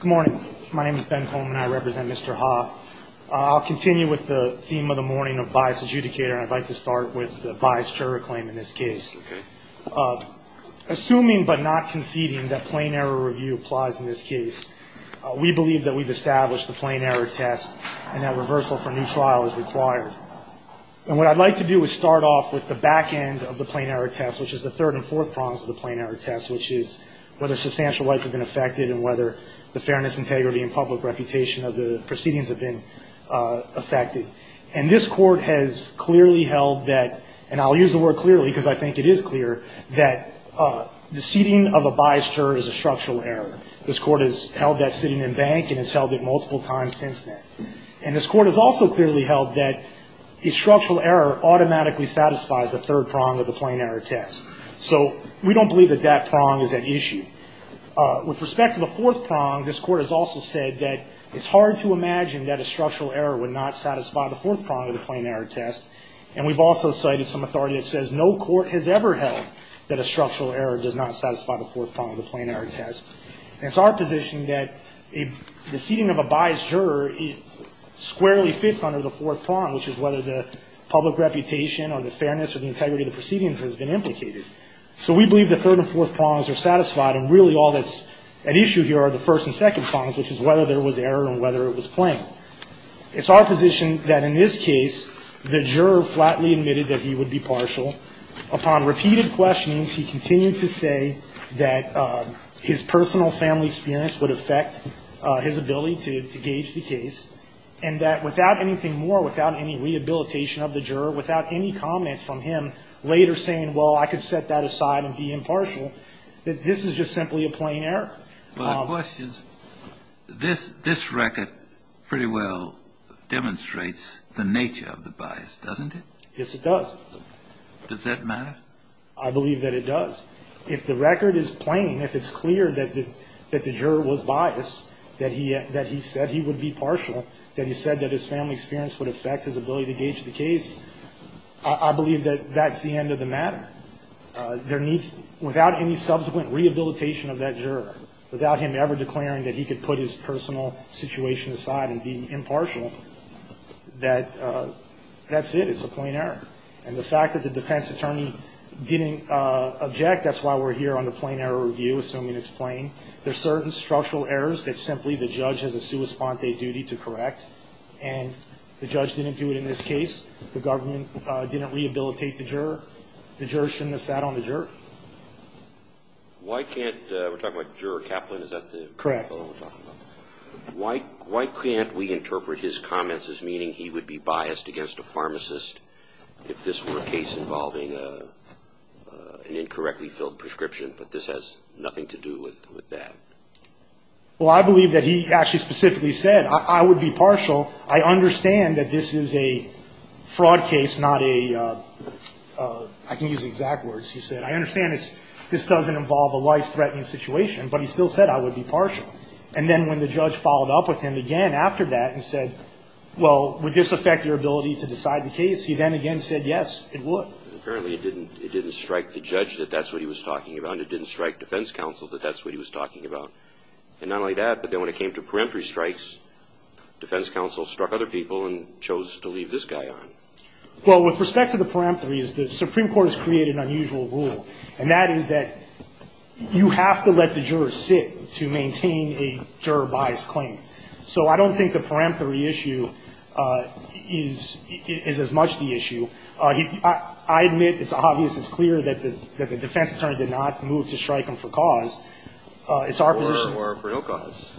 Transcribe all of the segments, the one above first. Good morning. My name is Ben Coleman and I represent Mr. Ha. I'll continue with the theme of the morning of bias adjudicator and I'd like to start with the bias juror claim in this case. Okay. Assuming but not conceding that plain error review applies in this case, we believe that we've established the plain error test and that reversal for new trial is required. And what I'd like to do is start off with the back end of the plain error test, which is the third and fourth prongs of the plain error test, which is whether substantial rights have been affected and whether the fairness, integrity, and public reputation of the proceedings have been affected. And this court has clearly held that, and I'll use the word clearly because I think it is clear, that the seating of a biased juror is a structural error. This court has held that seating in bank and has held it multiple times since then. And this court has also clearly held that a structural error automatically satisfies the third prong of the plain error test. So we don't believe that that prong is at issue. With respect to the fourth prong, this court has also said that it's hard to imagine that a structural error would not satisfy the fourth prong of the plain error test. And we've also cited some authority that says no court has ever held that a structural error does not satisfy the fourth prong of the plain error test. And it's our position that the seating of a biased juror squarely fits under the fourth prong, which is whether the public reputation or the fairness or the integrity of the proceedings has been implicated. So we believe the third and fourth prongs are satisfied, and really all that's at issue here are the first and second prongs, which is whether there was error and whether it was plain. It's our position that in this case, the juror flatly admitted that he would be partial. Upon repeated questions, he continued to say that his personal family experience would affect his ability to gauge the case, and that without anything more, without any rehabilitation of the juror, without any comment from him later saying, well, I could set that aside and be impartial, that this is just simply a plain error. Kennedy. Well, the question is, this record pretty well demonstrates the nature of the bias, doesn't it? Yes, it does. Does that matter? I believe that it does. If the record is plain, if it's clear that the juror was biased, that he said he would be partial, that he said that his family experience would affect his ability to gauge the case, I believe that that's the end of the matter. There needs, without any subsequent rehabilitation of that juror, without him ever declaring that he could put his personal situation aside and be impartial, that that's it, it's a plain error. And the fact that the defense attorney didn't object, that's why we're here on the plain error review, assuming it's plain. There are certain structural errors that simply the judge has a sua sponte duty to correct, and the judge didn't do it in this case. The government didn't rehabilitate the juror. The juror shouldn't have sat on the juror. Why can't we interpret his comments as meaning he would be biased against a pharmacist if this were a case involving an incorrectly filled prescription, but this has nothing to do with that? Well, I believe that he actually specifically said, I would be partial. I understand that this is a fraud case, not a, I can use exact words, he said. I understand this doesn't involve a life-threatening situation, but he still said I would be partial. And then when the judge followed up with him again after that and said, well, would this affect your ability to decide the case, he then again said, yes, it would. Apparently it didn't strike the judge that that's what he was talking about, and it didn't strike defense counsel that that's what he was talking about. And not only that, but then when it came to peremptory strikes, defense counsel struck other people and chose to leave this guy on. Well, with respect to the peremptory, the Supreme Court has created an unusual rule, and that is that you have to let the juror sit to maintain a juror-biased claim. So I don't think the peremptory issue is as much the issue. I admit it's obvious, it's clear that the defense attorney did not move to strike him for cause. It's our position. Or for no cause.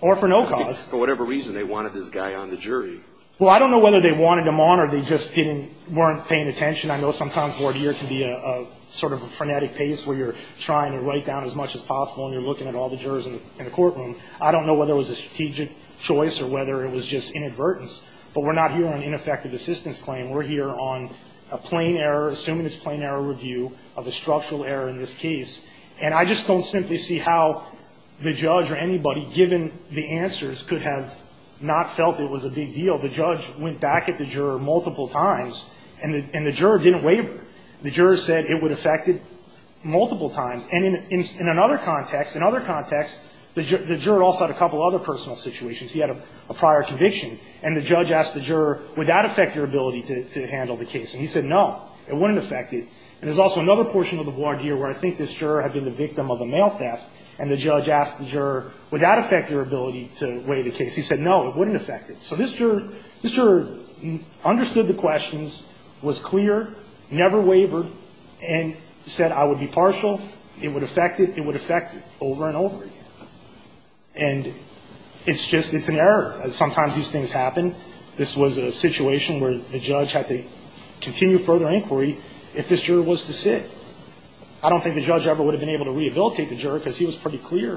Or for no cause. For whatever reason, they wanted this guy on the jury. Well, I don't know whether they wanted him on or they just didn't, weren't paying attention. I know sometimes court here can be a sort of a frenetic pace where you're trying to write down as much as possible and you're looking at all the jurors in the courtroom. I don't know whether it was a strategic choice or whether it was just inadvertence. But we're not here on ineffective assistance claim. We're here on a plain error, assuming it's plain error review, of a structural error in this case. And I just don't simply see how the judge or anybody, given the answers, could have not felt it was a big deal. The judge went back at the juror multiple times, and the juror didn't waver. The juror said it would affect it multiple times. And in another context, the juror also had a couple other personal situations. He had a prior conviction. And the judge asked the juror, would that affect your ability to handle the case? And he said, no, it wouldn't affect it. And there's also another portion of the board here where I think this juror had been the victim of a mail theft, and the judge asked the juror, would that affect your ability to weigh the case? He said, no, it wouldn't affect it. So this juror understood the questions, was clear, never wavered, and said, I would be partial. It would affect it. It would affect it over and over again. And it's just an error. Sometimes these things happen. This was a situation where the judge had to continue further inquiry if this juror was to sit. I don't think the judge ever would have been able to rehabilitate the juror because he was pretty clear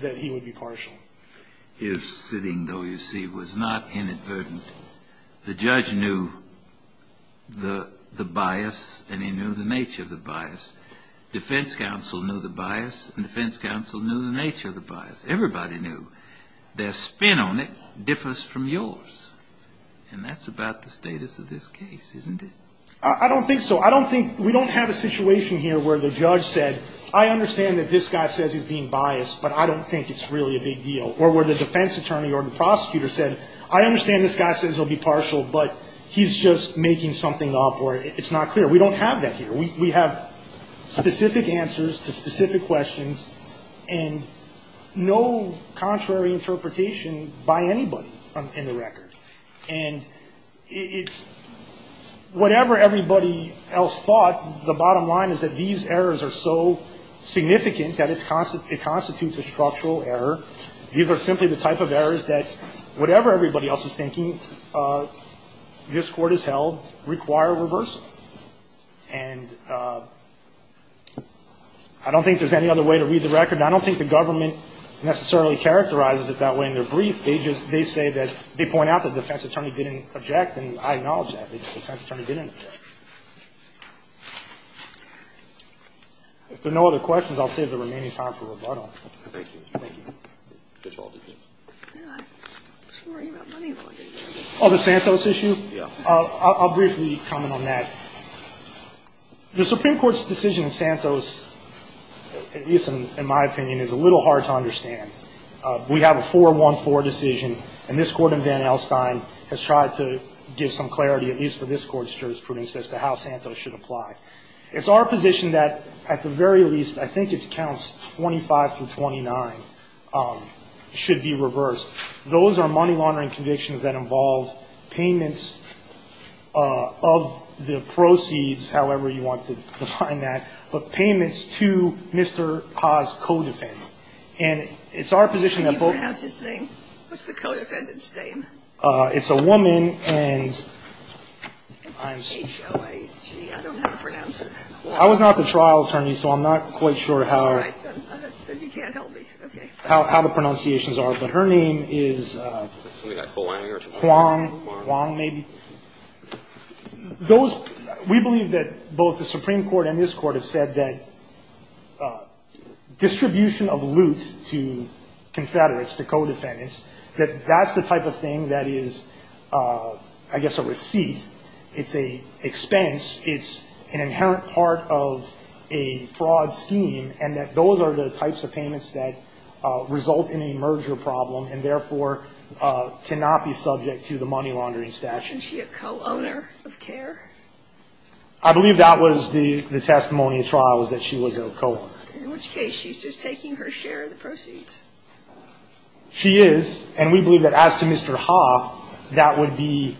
that he would be partial. His sitting, though, you see, was not inadvertent. The judge knew the bias, and he knew the nature of the bias. Defense counsel knew the bias, and defense counsel knew the nature of the bias. Everybody knew. Their spin on it differs from yours, and that's about the status of this case, isn't it? I don't think so. I don't think we don't have a situation here where the judge said, I understand that this guy says he's being biased, but I don't think it's really a big deal. Or where the defense attorney or the prosecutor said, I understand this guy says he'll be partial, but he's just making something up or it's not clear. We don't have that here. We have specific answers to specific questions and no contrary interpretation by anybody in the record. And it's whatever everybody else thought, the bottom line is that these errors are so significant that it constitutes a structural error. These are simply the type of errors that, whatever everybody else is thinking, this Court has held, require reversal. And I don't think there's any other way to read the record. I don't think the government necessarily characterizes it that way in their brief. They just, they say that, they point out that the defense attorney didn't object, and I acknowledge that. The defense attorney didn't object. If there are no other questions, I'll save the remaining time for rebuttal. Thank you. Thank you. Oh, the Santos issue? Yeah. I'll briefly comment on that. The Supreme Court's decision in Santos, at least in my opinion, is a little hard to understand. We have a 4-1-4 decision, and this Court in Van Alstyne has tried to give some clarity, at least for this Court's jurisprudence, as to how Santos should apply. It's our position that, at the very least, I think it counts 25 through 29 should be reversed. Those are money-laundering convictions that involve payments of the proceeds, however you want to define that, but payments to Mr. Ha's co-defendant. And it's our position that both of them. Can you pronounce his name? What's the co-defendant's name? It's a woman, and I'm sorry. It's H-O-A-G. I don't know how to pronounce it. I was not the trial attorney, so I'm not quite sure how. All right. Then you can't help me. Okay. I don't know how the pronunciations are, but her name is Huang, Huang maybe. Those we believe that both the Supreme Court and this Court have said that distribution of loot to Confederates, to co-defendants, that that's the type of thing that is, I guess, a receipt. It's an expense. It's an inherent part of a fraud scheme and that those are the types of payments that result in a merger problem and, therefore, to not be subject to the money-laundering statute. Is she a co-owner of CARE? I believe that was the testimony of trials, that she was a co-owner. In which case, she's just taking her share of the proceeds. She is. And we believe that as to Mr. Ha, that would be,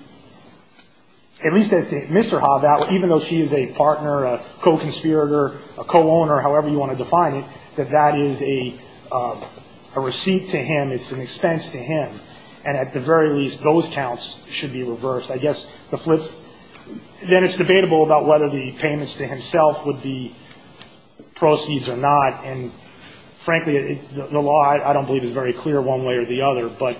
at least as to Mr. Ha, that even though she is a partner, a co-conspirator, a co-owner, however you want to define it, that that is a receipt to him. It's an expense to him. And at the very least, those counts should be reversed. I guess the flip's, then it's debatable about whether the payments to himself would be proceeds or not. And, frankly, the law, I don't believe, is very clear one way or the other. But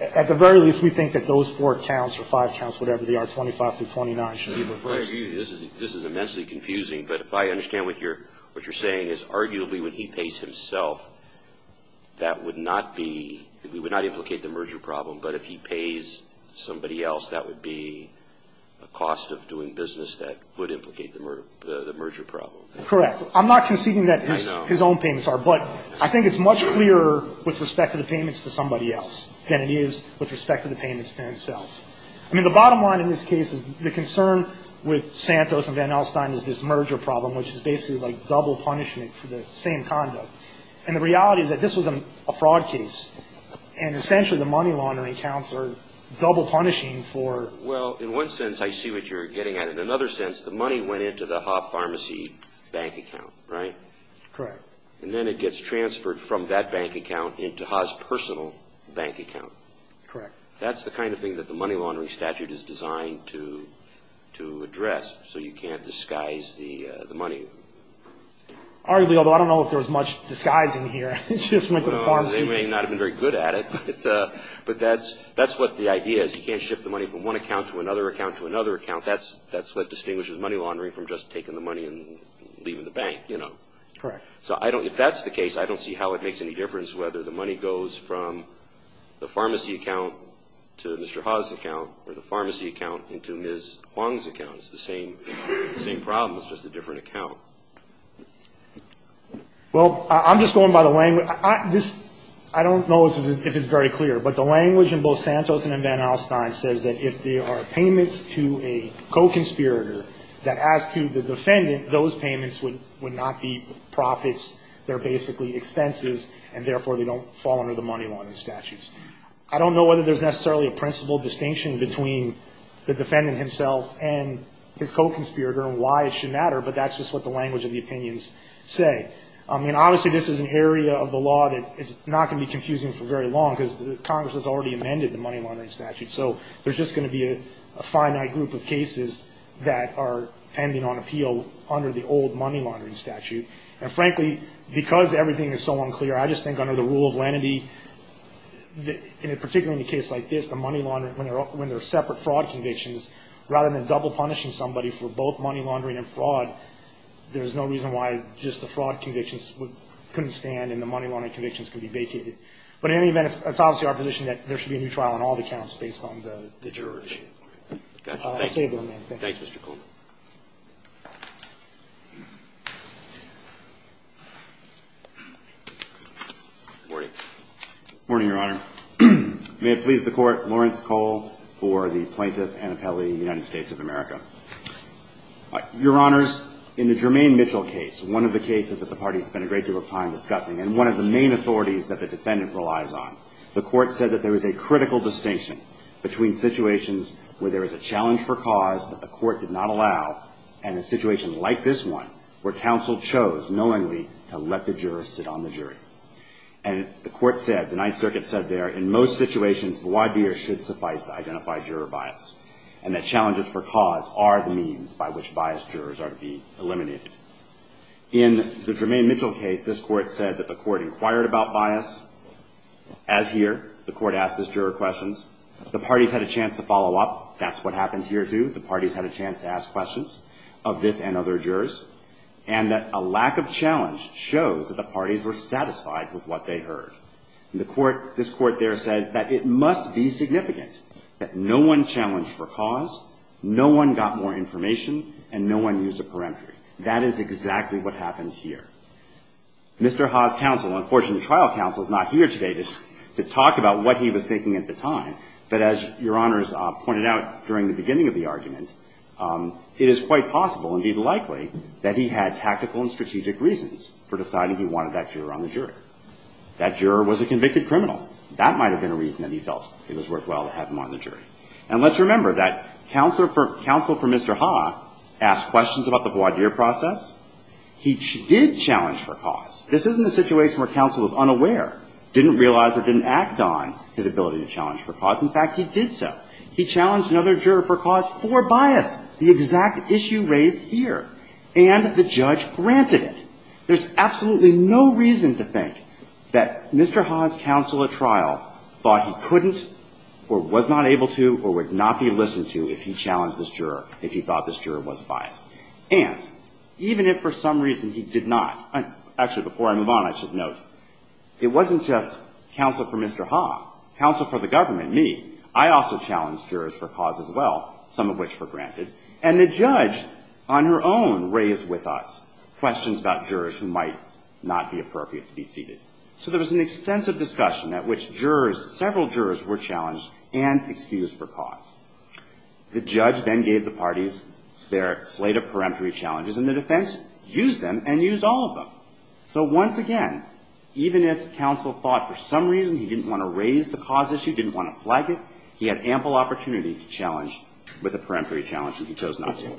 at the very least, we think that those four counts or five counts, whatever they are, 25 through 29, should be reversed. This is immensely confusing. But if I understand what you're saying is arguably when he pays himself, that would not be, it would not implicate the merger problem. But if he pays somebody else, that would be a cost of doing business that would implicate the merger problem. I'm not conceding that his own payments are. But I think it's much clearer with respect to the payments to somebody else than it is with respect to the payments to himself. I mean, the bottom line in this case is the concern with Santos and Van Alstyne is this merger problem, which is basically like double punishment for the same conduct. And the reality is that this was a fraud case. And essentially the money laundering counts are double punishing for. Well, in one sense, I see what you're getting at. In another sense, the money went into the Haas Pharmacy bank account, right? Correct. And then it gets transferred from that bank account into Haas' personal bank account. Correct. That's the kind of thing that the money laundering statute is designed to address so you can't disguise the money. Arguably, although I don't know if there was much disguising here. It just went to the pharmacy. They may not have been very good at it. But that's what the idea is. You can't ship the money from one account to another account to another account. That's what distinguishes money laundering from just taking the money and leaving the bank, you know. Correct. So if that's the case, I don't see how it makes any difference whether the money goes from the pharmacy account to Mr. Haas' account or the pharmacy account into Ms. Huang's account. It's the same problem, it's just a different account. Well, I'm just going by the language. I don't know if it's very clear. But the language in both Santos and in Van Alstyne says that if there are payments to a co-conspirator, that as to the defendant, those payments would not be profits. They're basically expenses, and therefore they don't fall under the money laundering statutes. I don't know whether there's necessarily a principal distinction between the defendant himself and his co-conspirator and why it should matter, but that's just what the language of the opinions say. I mean, obviously this is an area of the law that is not going to be confusing for very long, because Congress has already amended the money laundering statute. So there's just going to be a finite group of cases that are pending on appeal under the old money laundering statute. And frankly, because everything is so unclear, I just think under the rule of lenity, particularly in a case like this, when there are separate fraud convictions, rather than double punishing somebody for both money laundering and fraud, there's no reason why just the fraud convictions couldn't stand and the money laundering convictions could be vacated. But in any event, it's obviously our position that there should be a new trial on all the counts based on the jurors. I'll stay with you on that. Thanks, Mr. Coleman. Morning. Morning, Your Honor. May it please the Court, Lawrence Cole for the plaintiff and appellee in the United States of America. Your Honors, in the Jermaine Mitchell case, one of the cases that the parties spent a great deal of time discussing, and one of the main authorities that the defendant relies on, the Court said that there is a critical distinction between situations where there is a challenge for cause that the Court did not allow and a situation like this one where counsel chose, knowingly, to let the juror sit on the jury. And the Court said, the Ninth Circuit said there, in most situations, the wadir should suffice to identify juror bias and that challenges for cause are the means by which biased jurors are to be eliminated. In the Jermaine Mitchell case, this Court said that the Court inquired about bias. As here, the Court asked this juror questions. The parties had a chance to follow up. That's what happened here, too. The parties had a chance to ask questions of this and other jurors, and that a lack of challenge shows that the parties were satisfied with what they heard. The Court, this Court there said that it must be significant that no one challenged for cause, no one got more information, and no one used a peremptory. That is exactly what happens here. Mr. Ha's counsel, unfortunately, trial counsel, is not here today to talk about what he was thinking at the time, but as Your Honors pointed out during the beginning of the argument, it is quite possible, indeed likely, that he had tactical and strategic reasons for deciding he wanted that juror on the jury. That juror was a convicted criminal. That might have been a reason that he felt it was worthwhile to have him on the jury. And let's remember that counsel for Mr. Ha asked questions about the voir dire process. He did challenge for cause. This isn't a situation where counsel is unaware, didn't realize or didn't act on his ability to challenge for cause. In fact, he did so. He challenged another juror for cause for bias, the exact issue raised here, and the judge granted it. There's absolutely no reason to think that Mr. Ha's counsel at trial thought he couldn't or was not able to or would not be listened to if he challenged this juror, if he thought this juror was biased. And even if for some reason he did not, actually, before I move on, I should note, it wasn't just counsel for Mr. Ha, counsel for the government, me. I also challenged jurors for cause as well, some of which were granted, and the judge on her own raised with us questions about jurors who might not be appropriate to be seated. So there was an extensive discussion at which jurors, several jurors were challenged and excused for cause. The judge then gave the parties their slate of peremptory challenges, and the defense used them and used all of them. So once again, even if counsel thought for some reason he didn't want to raise the cause issue, didn't want to flag it, he had ample opportunity to challenge with a peremptory challenge, and he chose not to.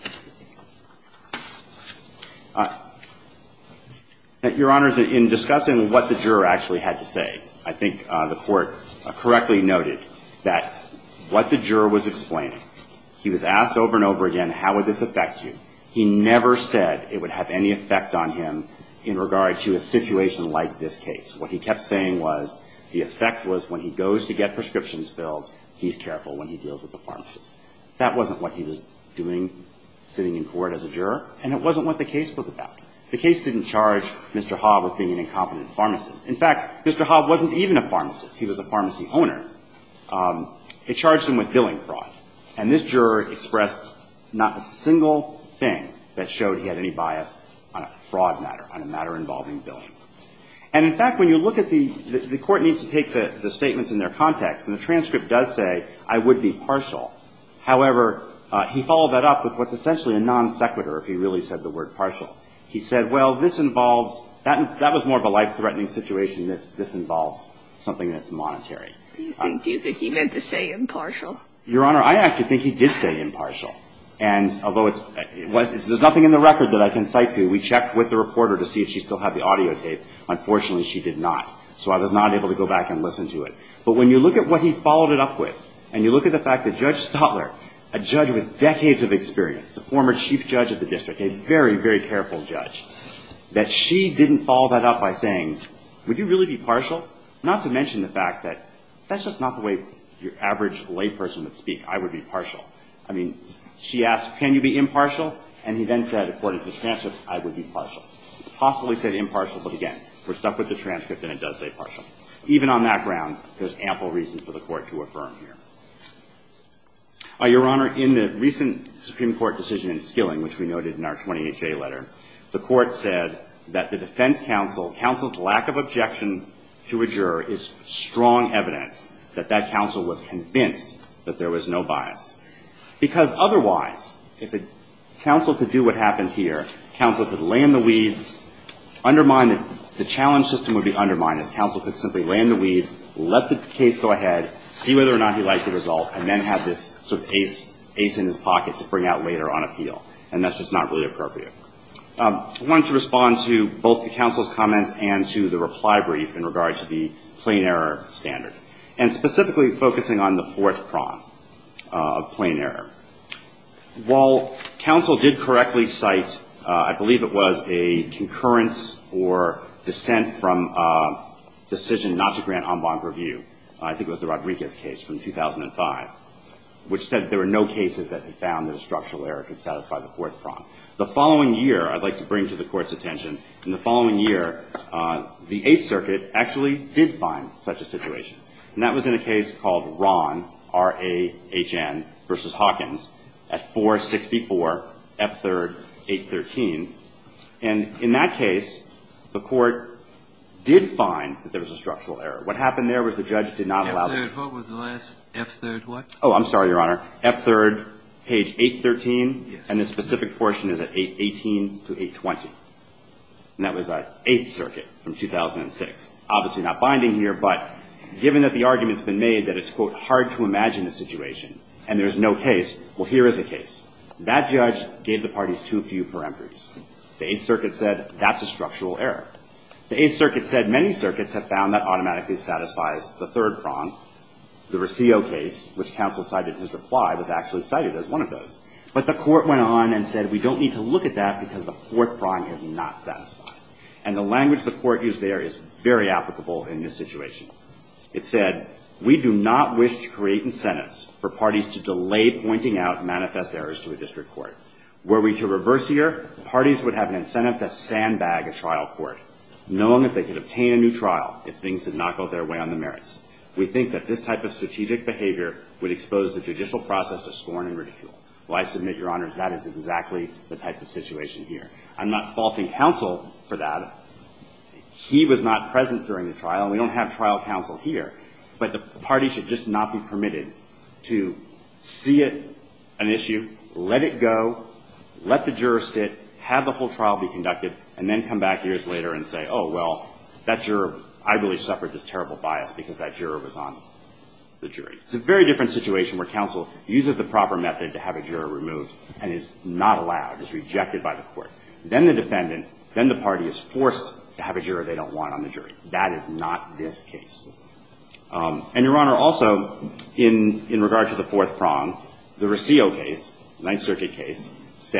Your Honors, in discussing what the juror actually had to say, I think the Court correctly noted that what the juror was explaining, he was asked over and over again, how would this affect you? He never said it would have any effect on him in regard to a situation like this case. What he kept saying was the effect was when he goes to get prescriptions filled, he's careful when he deals with the pharmacist. That wasn't what he was doing sitting in court as a juror, and it wasn't what the case was about. The case didn't charge Mr. Hobb with being an incompetent pharmacist. In fact, Mr. Hobb wasn't even a pharmacist. He was a pharmacy owner. It charged him with billing fraud, and this juror expressed not a single thing that showed he had any bias on a fraud matter, on a matter involving billing. And in fact, when you look at the – the Court needs to take the statements in their context, and the transcript does say, I would be partial. However, he followed that up with what's essentially a non sequitur if he really said the word partial. He said, well, this involves – that was more of a life-threatening situation, that this involves something that's monetary. Do you think he meant to say impartial? Your Honor, I actually think he did say impartial. And although it's – it was – there's nothing in the record that I can cite to. We checked with the reporter to see if she still had the audio tape. Unfortunately, she did not, so I was not able to go back and listen to it. But when you look at what he followed it up with, and you look at the fact that Judge Stotler, a judge with decades of experience, a former chief judge of the district, a very, very careful judge, that she didn't follow that up by saying, would you really be partial? Not to mention the fact that that's just not the way your average layperson would speak, I would be partial. I mean, she asked, can you be impartial? And he then said, according to the transcript, I would be partial. It's possible he said impartial, but again, we're stuck with the transcript, and it does say partial. Even on that grounds, there's ample reason for the Court to affirm here. Your Honor, in the recent Supreme Court decision in Skilling, which we noted in our 20HA letter, the Court said that the defense counsel – counsel's lack of objection to a juror is strong evidence that that counsel was convinced that there was no bias. Because otherwise, if a counsel could do what happens here, counsel could lay in the weeds, undermine – the challenge system would be undermined as counsel could simply lay in the weeds, let the case go ahead, see whether or not he liked the result, and then have this sort of ace in his pocket to bring out later on appeal. And that's just not really appropriate. I wanted to respond to both the counsel's comments and to the reply brief in regard to the plain error standard, and specifically focusing on the fourth prong of plain error. While counsel did correctly cite, I believe it was, a concurrence or dissent from a decision not to grant en banc review, I think it was the Rodriguez case from 2005, which said there were no cases that found that a structural error could satisfy the fourth prong. The following year, I'd like to bring to the Court's attention, in the following year, the Eighth Circuit actually did find such a situation. And that was in a case called Rahn, R-A-H-N, v. Hawkins, at 464 F3rd 813. And in that case, the Court did find that there was a structural error. What happened there was the judge did not allow that. What was the last F3rd what? Oh, I'm sorry, Your Honor. F3rd, page 813. Yes. And the specific portion is at 818 to 820. And that was the Eighth Circuit from 2006. Obviously not binding here, but given that the argument's been made that it's, quote, hard to imagine the situation and there's no case, well, here is a case. That judge gave the parties too few parameters. The Eighth Circuit said that's a structural error. The Eighth Circuit said many circuits have found that automatically satisfies the third prong, the Rosillo case, which counsel cited in his reply was actually cited as one of those. But the Court went on and said we don't need to look at that because the fourth prong is not satisfied. And the language the Court used there is very applicable in this situation. It said, we do not wish to create incentives for parties to delay pointing out manifest errors to a district court. Were we to reverse here, parties would have an incentive to sandbag a trial court, knowing that they could obtain a new trial if things did not go their way on the merits. We think that this type of strategic behavior would expose the judicial process to scorn and ridicule. Well, I submit, Your Honors, that is exactly the type of situation here. I'm not faulting counsel for that. He was not present during the trial. We don't have trial counsel here. But the parties should just not be permitted to see it an issue, let it go, let the juror sit, have the whole trial be conducted, and then come back years later and say, oh, well, that juror, I really suffered this terrible bias because that juror was on the jury. It's a very different situation where counsel uses the proper method to have a juror removed and is not allowed, is rejected by the Court. Then the defendant, then the party is forced to have a juror they don't want on the jury. That is not this case. And, Your Honor, also, in regard to the fourth prong, the Rossio case, Ninth Circuit case, I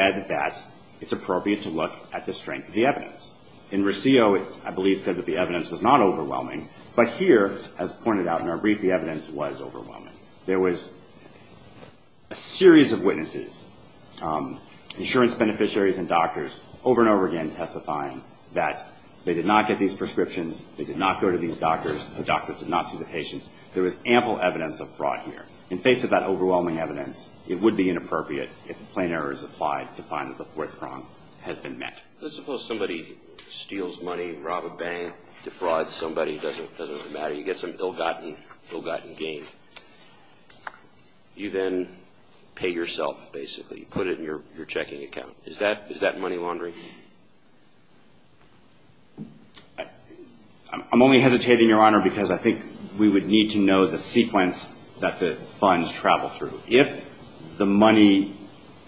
believe said that the evidence was not overwhelming, but here, as pointed out in our brief, the evidence was overwhelming. There was a series of witnesses, insurance beneficiaries and doctors, over and over again testifying that they did not get these prescriptions, they did not go to these doctors, the doctors did not see the patients. There was ample evidence of fraud here. In face of that overwhelming evidence, it would be inappropriate if a plain error is applied to find that the fourth prong has been met. Let's suppose somebody steals money, rob a bank, defrauds somebody, it doesn't matter, you get some ill-gotten gain. You then pay yourself, basically. You put it in your checking account. Is that money laundering? I'm only hesitating, Your Honor, because I think we would need to know the sequence that the funds travel through. If the money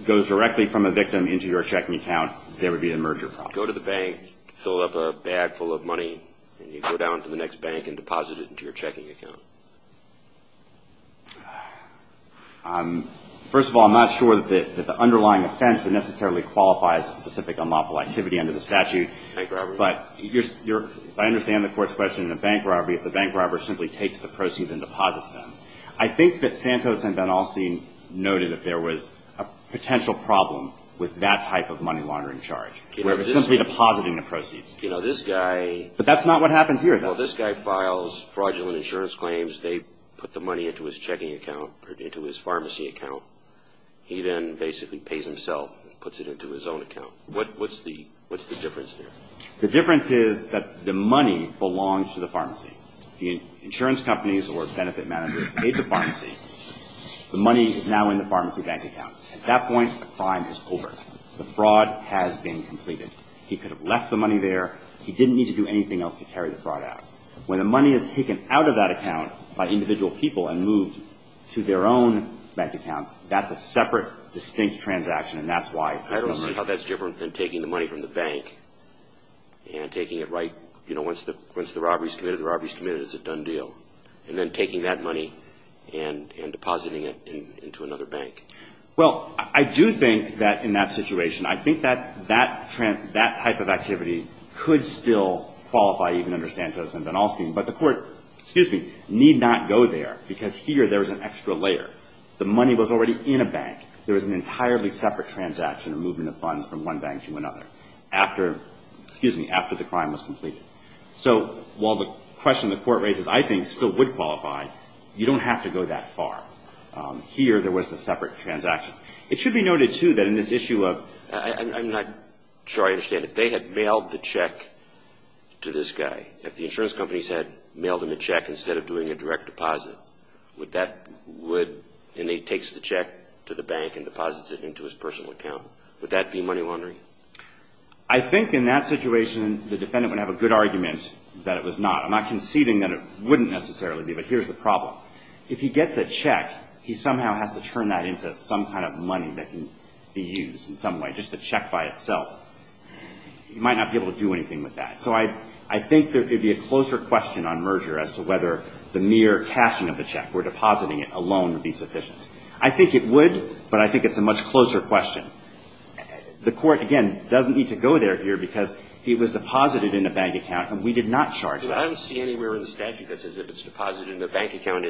goes directly from a victim into your checking account, there would be a merger problem. Go to the bank, fill up a bag full of money, and you go down to the next bank and deposit it into your checking account. First of all, I'm not sure that the underlying offense would necessarily qualify as a specific unlawful activity under the statute. Bank robbery. But I understand the Court's question in the bank robbery, if the bank robber simply takes the proceeds and deposits them. I think that Santos and Van Alstyne noted that there was a potential problem with that type of money laundering charge, where it was simply depositing the proceeds. You know, this guy... But that's not what happens here, though. Well, this guy files fraudulent insurance claims. They put the money into his checking account or into his pharmacy account. He then basically pays himself and puts it into his own account. What's the difference there? The difference is that the money belongs to the pharmacy. The insurance companies or benefit managers paid the pharmacy. The money is now in the pharmacy bank account. At that point, the crime is over. The fraud has been completed. He could have left the money there. He didn't need to do anything else to carry the fraud out. When the money is taken out of that account by individual people and moved to their own bank accounts, that's a separate, distinct transaction, and that's why... I don't see how that's different than taking the money from the bank and taking it right, you know, once the robbery is committed, the robbery is committed, it's a done deal, and then taking that money and depositing it into another bank. Well, I do think that in that situation, I think that that type of activity could still qualify even under Santos and Ben Alstein, but the court need not go there because here there is an extra layer. The money was already in a bank. There was an entirely separate transaction of moving the funds from one bank to another after the crime was completed. So while the question the court raises I think still would qualify, you don't have to go that far. Here there was a separate transaction. It should be noted, too, that in this issue of... I'm not sure I understand. If they had mailed the check to this guy, if the insurance companies had mailed him a check instead of doing a direct deposit, and he takes the check to the bank and deposits it into his personal account, would that be money laundering? I think in that situation the defendant would have a good argument that it was not. I'm not conceding that it wouldn't necessarily be, but here's the problem. If he gets a check, he somehow has to turn that into some kind of money that can be used in some way, just the check by itself. He might not be able to do anything with that. So I think there could be a closer question on merger as to whether the mere cashing of the check or depositing it alone would be sufficient. I think it would, but I think it's a much closer question. The court, again, doesn't need to go there here because it was deposited in a bank account and we did not charge that. I don't see anywhere in the statute that says if it's deposited in a bank account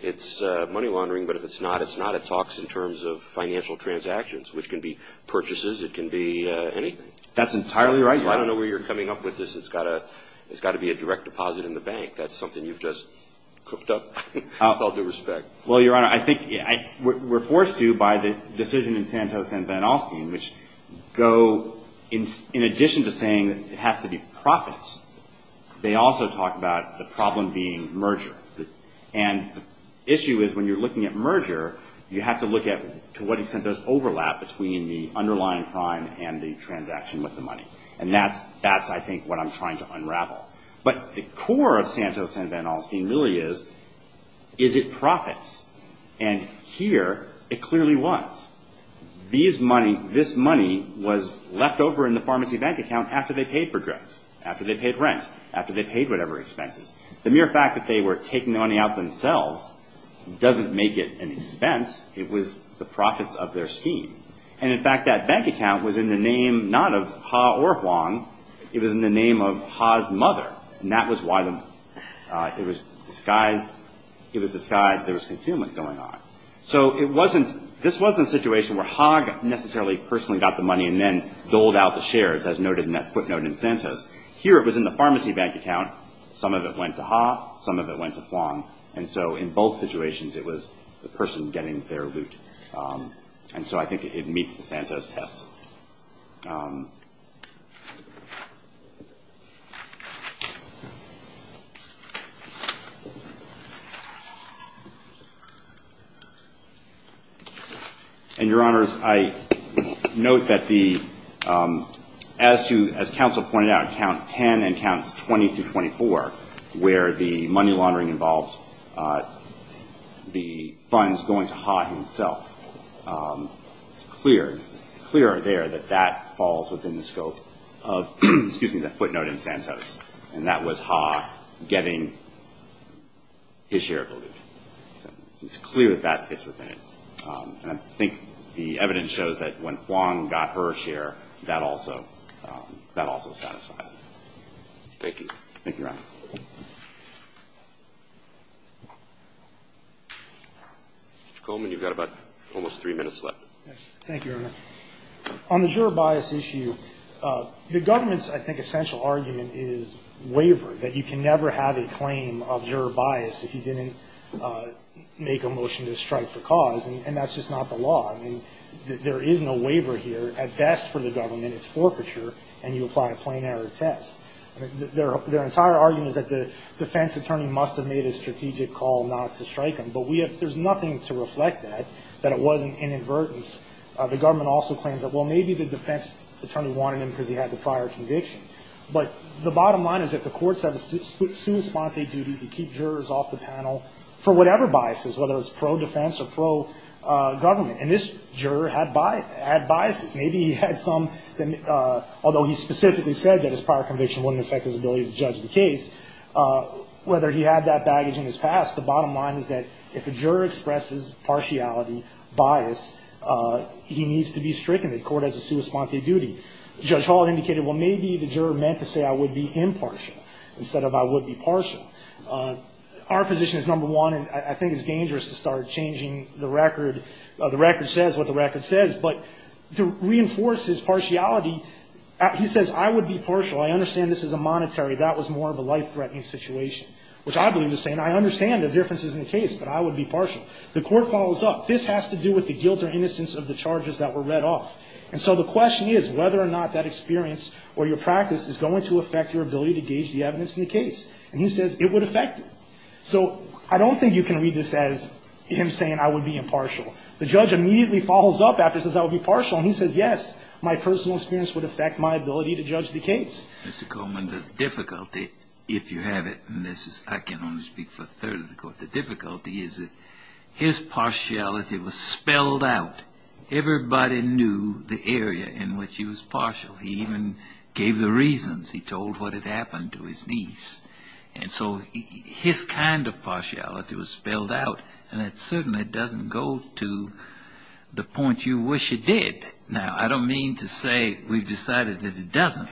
it's money laundering, but if it's not, it's not. It talks in terms of financial transactions, which can be purchases. It can be anything. That's entirely right. I don't know where you're coming up with this. It's got to be a direct deposit in the bank. That's something you've just cooked up with all due respect. Well, Your Honor, I think we're forced to by the decision in Santos and Van Alstyne, which go in addition to saying it has to be profits, they also talk about the problem being merger. And the issue is when you're looking at merger, you have to look at to what extent there's overlap between the underlying crime and the transaction with the money. And that's, I think, what I'm trying to unravel. But the core of Santos and Van Alstyne really is, is it profits? And here it clearly was. This money was left over in the pharmacy bank account after they paid for drugs, after they paid rent, after they paid whatever expenses. The mere fact that they were taking the money out themselves doesn't make it an expense. It was the profits of their scheme. And, in fact, that bank account was in the name not of Ha or Huang. It was in the name of Ha's mother. And that was why it was disguised there was concealment going on. So this wasn't a situation where Ha necessarily personally got the money and then doled out the shares as noted in that footnote in Santos. Here it was in the pharmacy bank account. Some of it went to Ha, some of it went to Huang. And so in both situations it was the person getting their loot. And so I think it meets the Santos test. And, Your Honors, I note that the, as to, as counsel pointed out, accounts 20 through 24 where the money laundering involves the funds going to Ha himself. It's clear there that that falls within the scope of, excuse me, the footnote in Santos. And that was Ha getting his share of the loot. So it's clear that that fits within it. And I think the evidence shows that when Huang got her share, that also satisfies it. Thank you. Mr. Coleman, you've got about almost three minutes left. Thank you, Your Honor. On the juror bias issue, the government's, I think, essential argument is wavering. That you can never have a claim of juror bias if you didn't make a motion to strike for cause. And that's just not the law. I mean, there is no waiver here. At best for the government, it's forfeiture, and you apply a plain error test. Their entire argument is that the defense attorney must have made a strategic call not to strike him. But there's nothing to reflect that, that it wasn't inadvertence. The government also claims that, well, maybe the defense attorney wanted him because he had the prior conviction. But the bottom line is that the courts have a substantive duty to keep jurors off the panel for whatever biases, whether it's pro-defense or pro-government. And this juror had biases. Maybe he had some, although he specifically said that his prior conviction wouldn't affect his ability to judge the case. Whether he had that baggage in his past, the bottom line is that if a juror expresses partiality bias, he needs to be stricken. The court has a substantive duty. Judge Hall indicated, well, maybe the juror meant to say I would be impartial instead of I would be partial. Our position is number one, and I think it's dangerous to start changing the record, the record says what the record says. But to reinforce his partiality, he says I would be partial. I understand this is a monetary, that was more of a life-threatening situation, which I believe is the same. I understand the differences in the case, but I would be partial. The court follows up. This has to do with the guilt or innocence of the charges that were read off. And so the question is whether or not that experience or your practice is going to affect your ability to gauge the evidence in the case. And he says it would affect it. So I don't think you can read this as him saying I would be impartial. The judge immediately follows up after he says I would be partial, and he says yes, my personal experience would affect my ability to judge the case. Mr. Coleman, the difficulty, if you have it, and I can only speak for a third of the court, the difficulty is that his partiality was spelled out. Everybody knew the area in which he was partial. He even gave the reasons. He told what had happened to his niece. And so his kind of partiality was spelled out, and it certainly doesn't go to the point you wish it did. Now, I don't mean to say we've decided that it doesn't.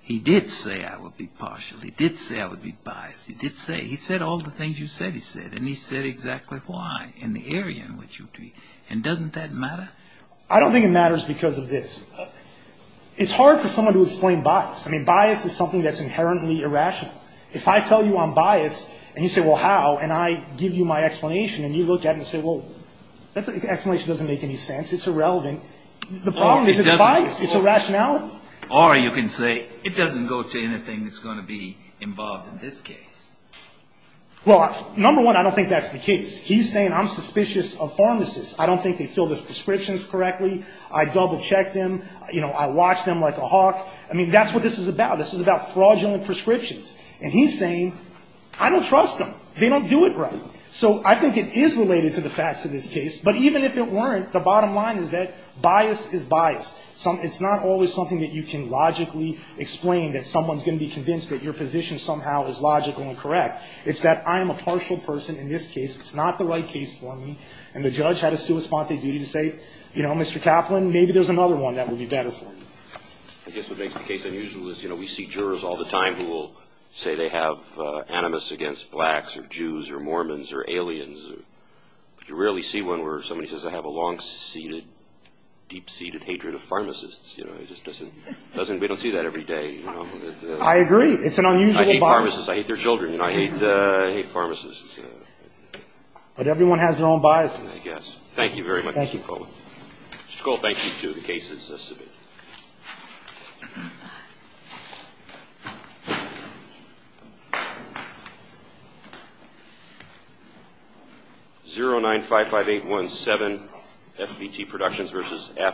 He did say I would be partial. He did say I would be biased. He did say. He said all the things you said he said, and he said exactly why and the area in which you agreed. And doesn't that matter? I don't think it matters because of this. It's hard for someone to explain bias. I mean, bias is something that's inherently irrational. If I tell you I'm biased, and you say, well, how, and I give you my explanation, and you look at it and say, well, the explanation doesn't make any sense. It's irrelevant. The problem isn't bias. It's irrationality. Or you can say it doesn't go to anything that's going to be involved in this case. Well, number one, I don't think that's the case. He's saying I'm suspicious of pharmacists. I don't think they fill their prescriptions correctly. I double-check them. You know, I watch them like a hawk. I mean, that's what this is about. This is about fraudulent prescriptions. And he's saying I don't trust them. They don't do it right. So I think it is related to the facts of this case. But even if it weren't, the bottom line is that bias is bias. It's not always something that you can logically explain that someone's going to be convinced that your position somehow is logical and correct. It's that I am a partial person in this case. It's not the right case for me. And the judge had a sua sponte duty to say, you know, Mr. Kaplan, maybe there's another one that would be better for you. I guess what makes the case unusual is, you know, we see jurors all the time who will say they have animus against blacks or Jews or Mormons or aliens. You rarely see one where somebody says I have a long-seated, deep-seated hatred of pharmacists. We don't see that every day. I agree. I hate pharmacists. I hate their children and I hate pharmacists. But everyone has their own biases. Thank you very much.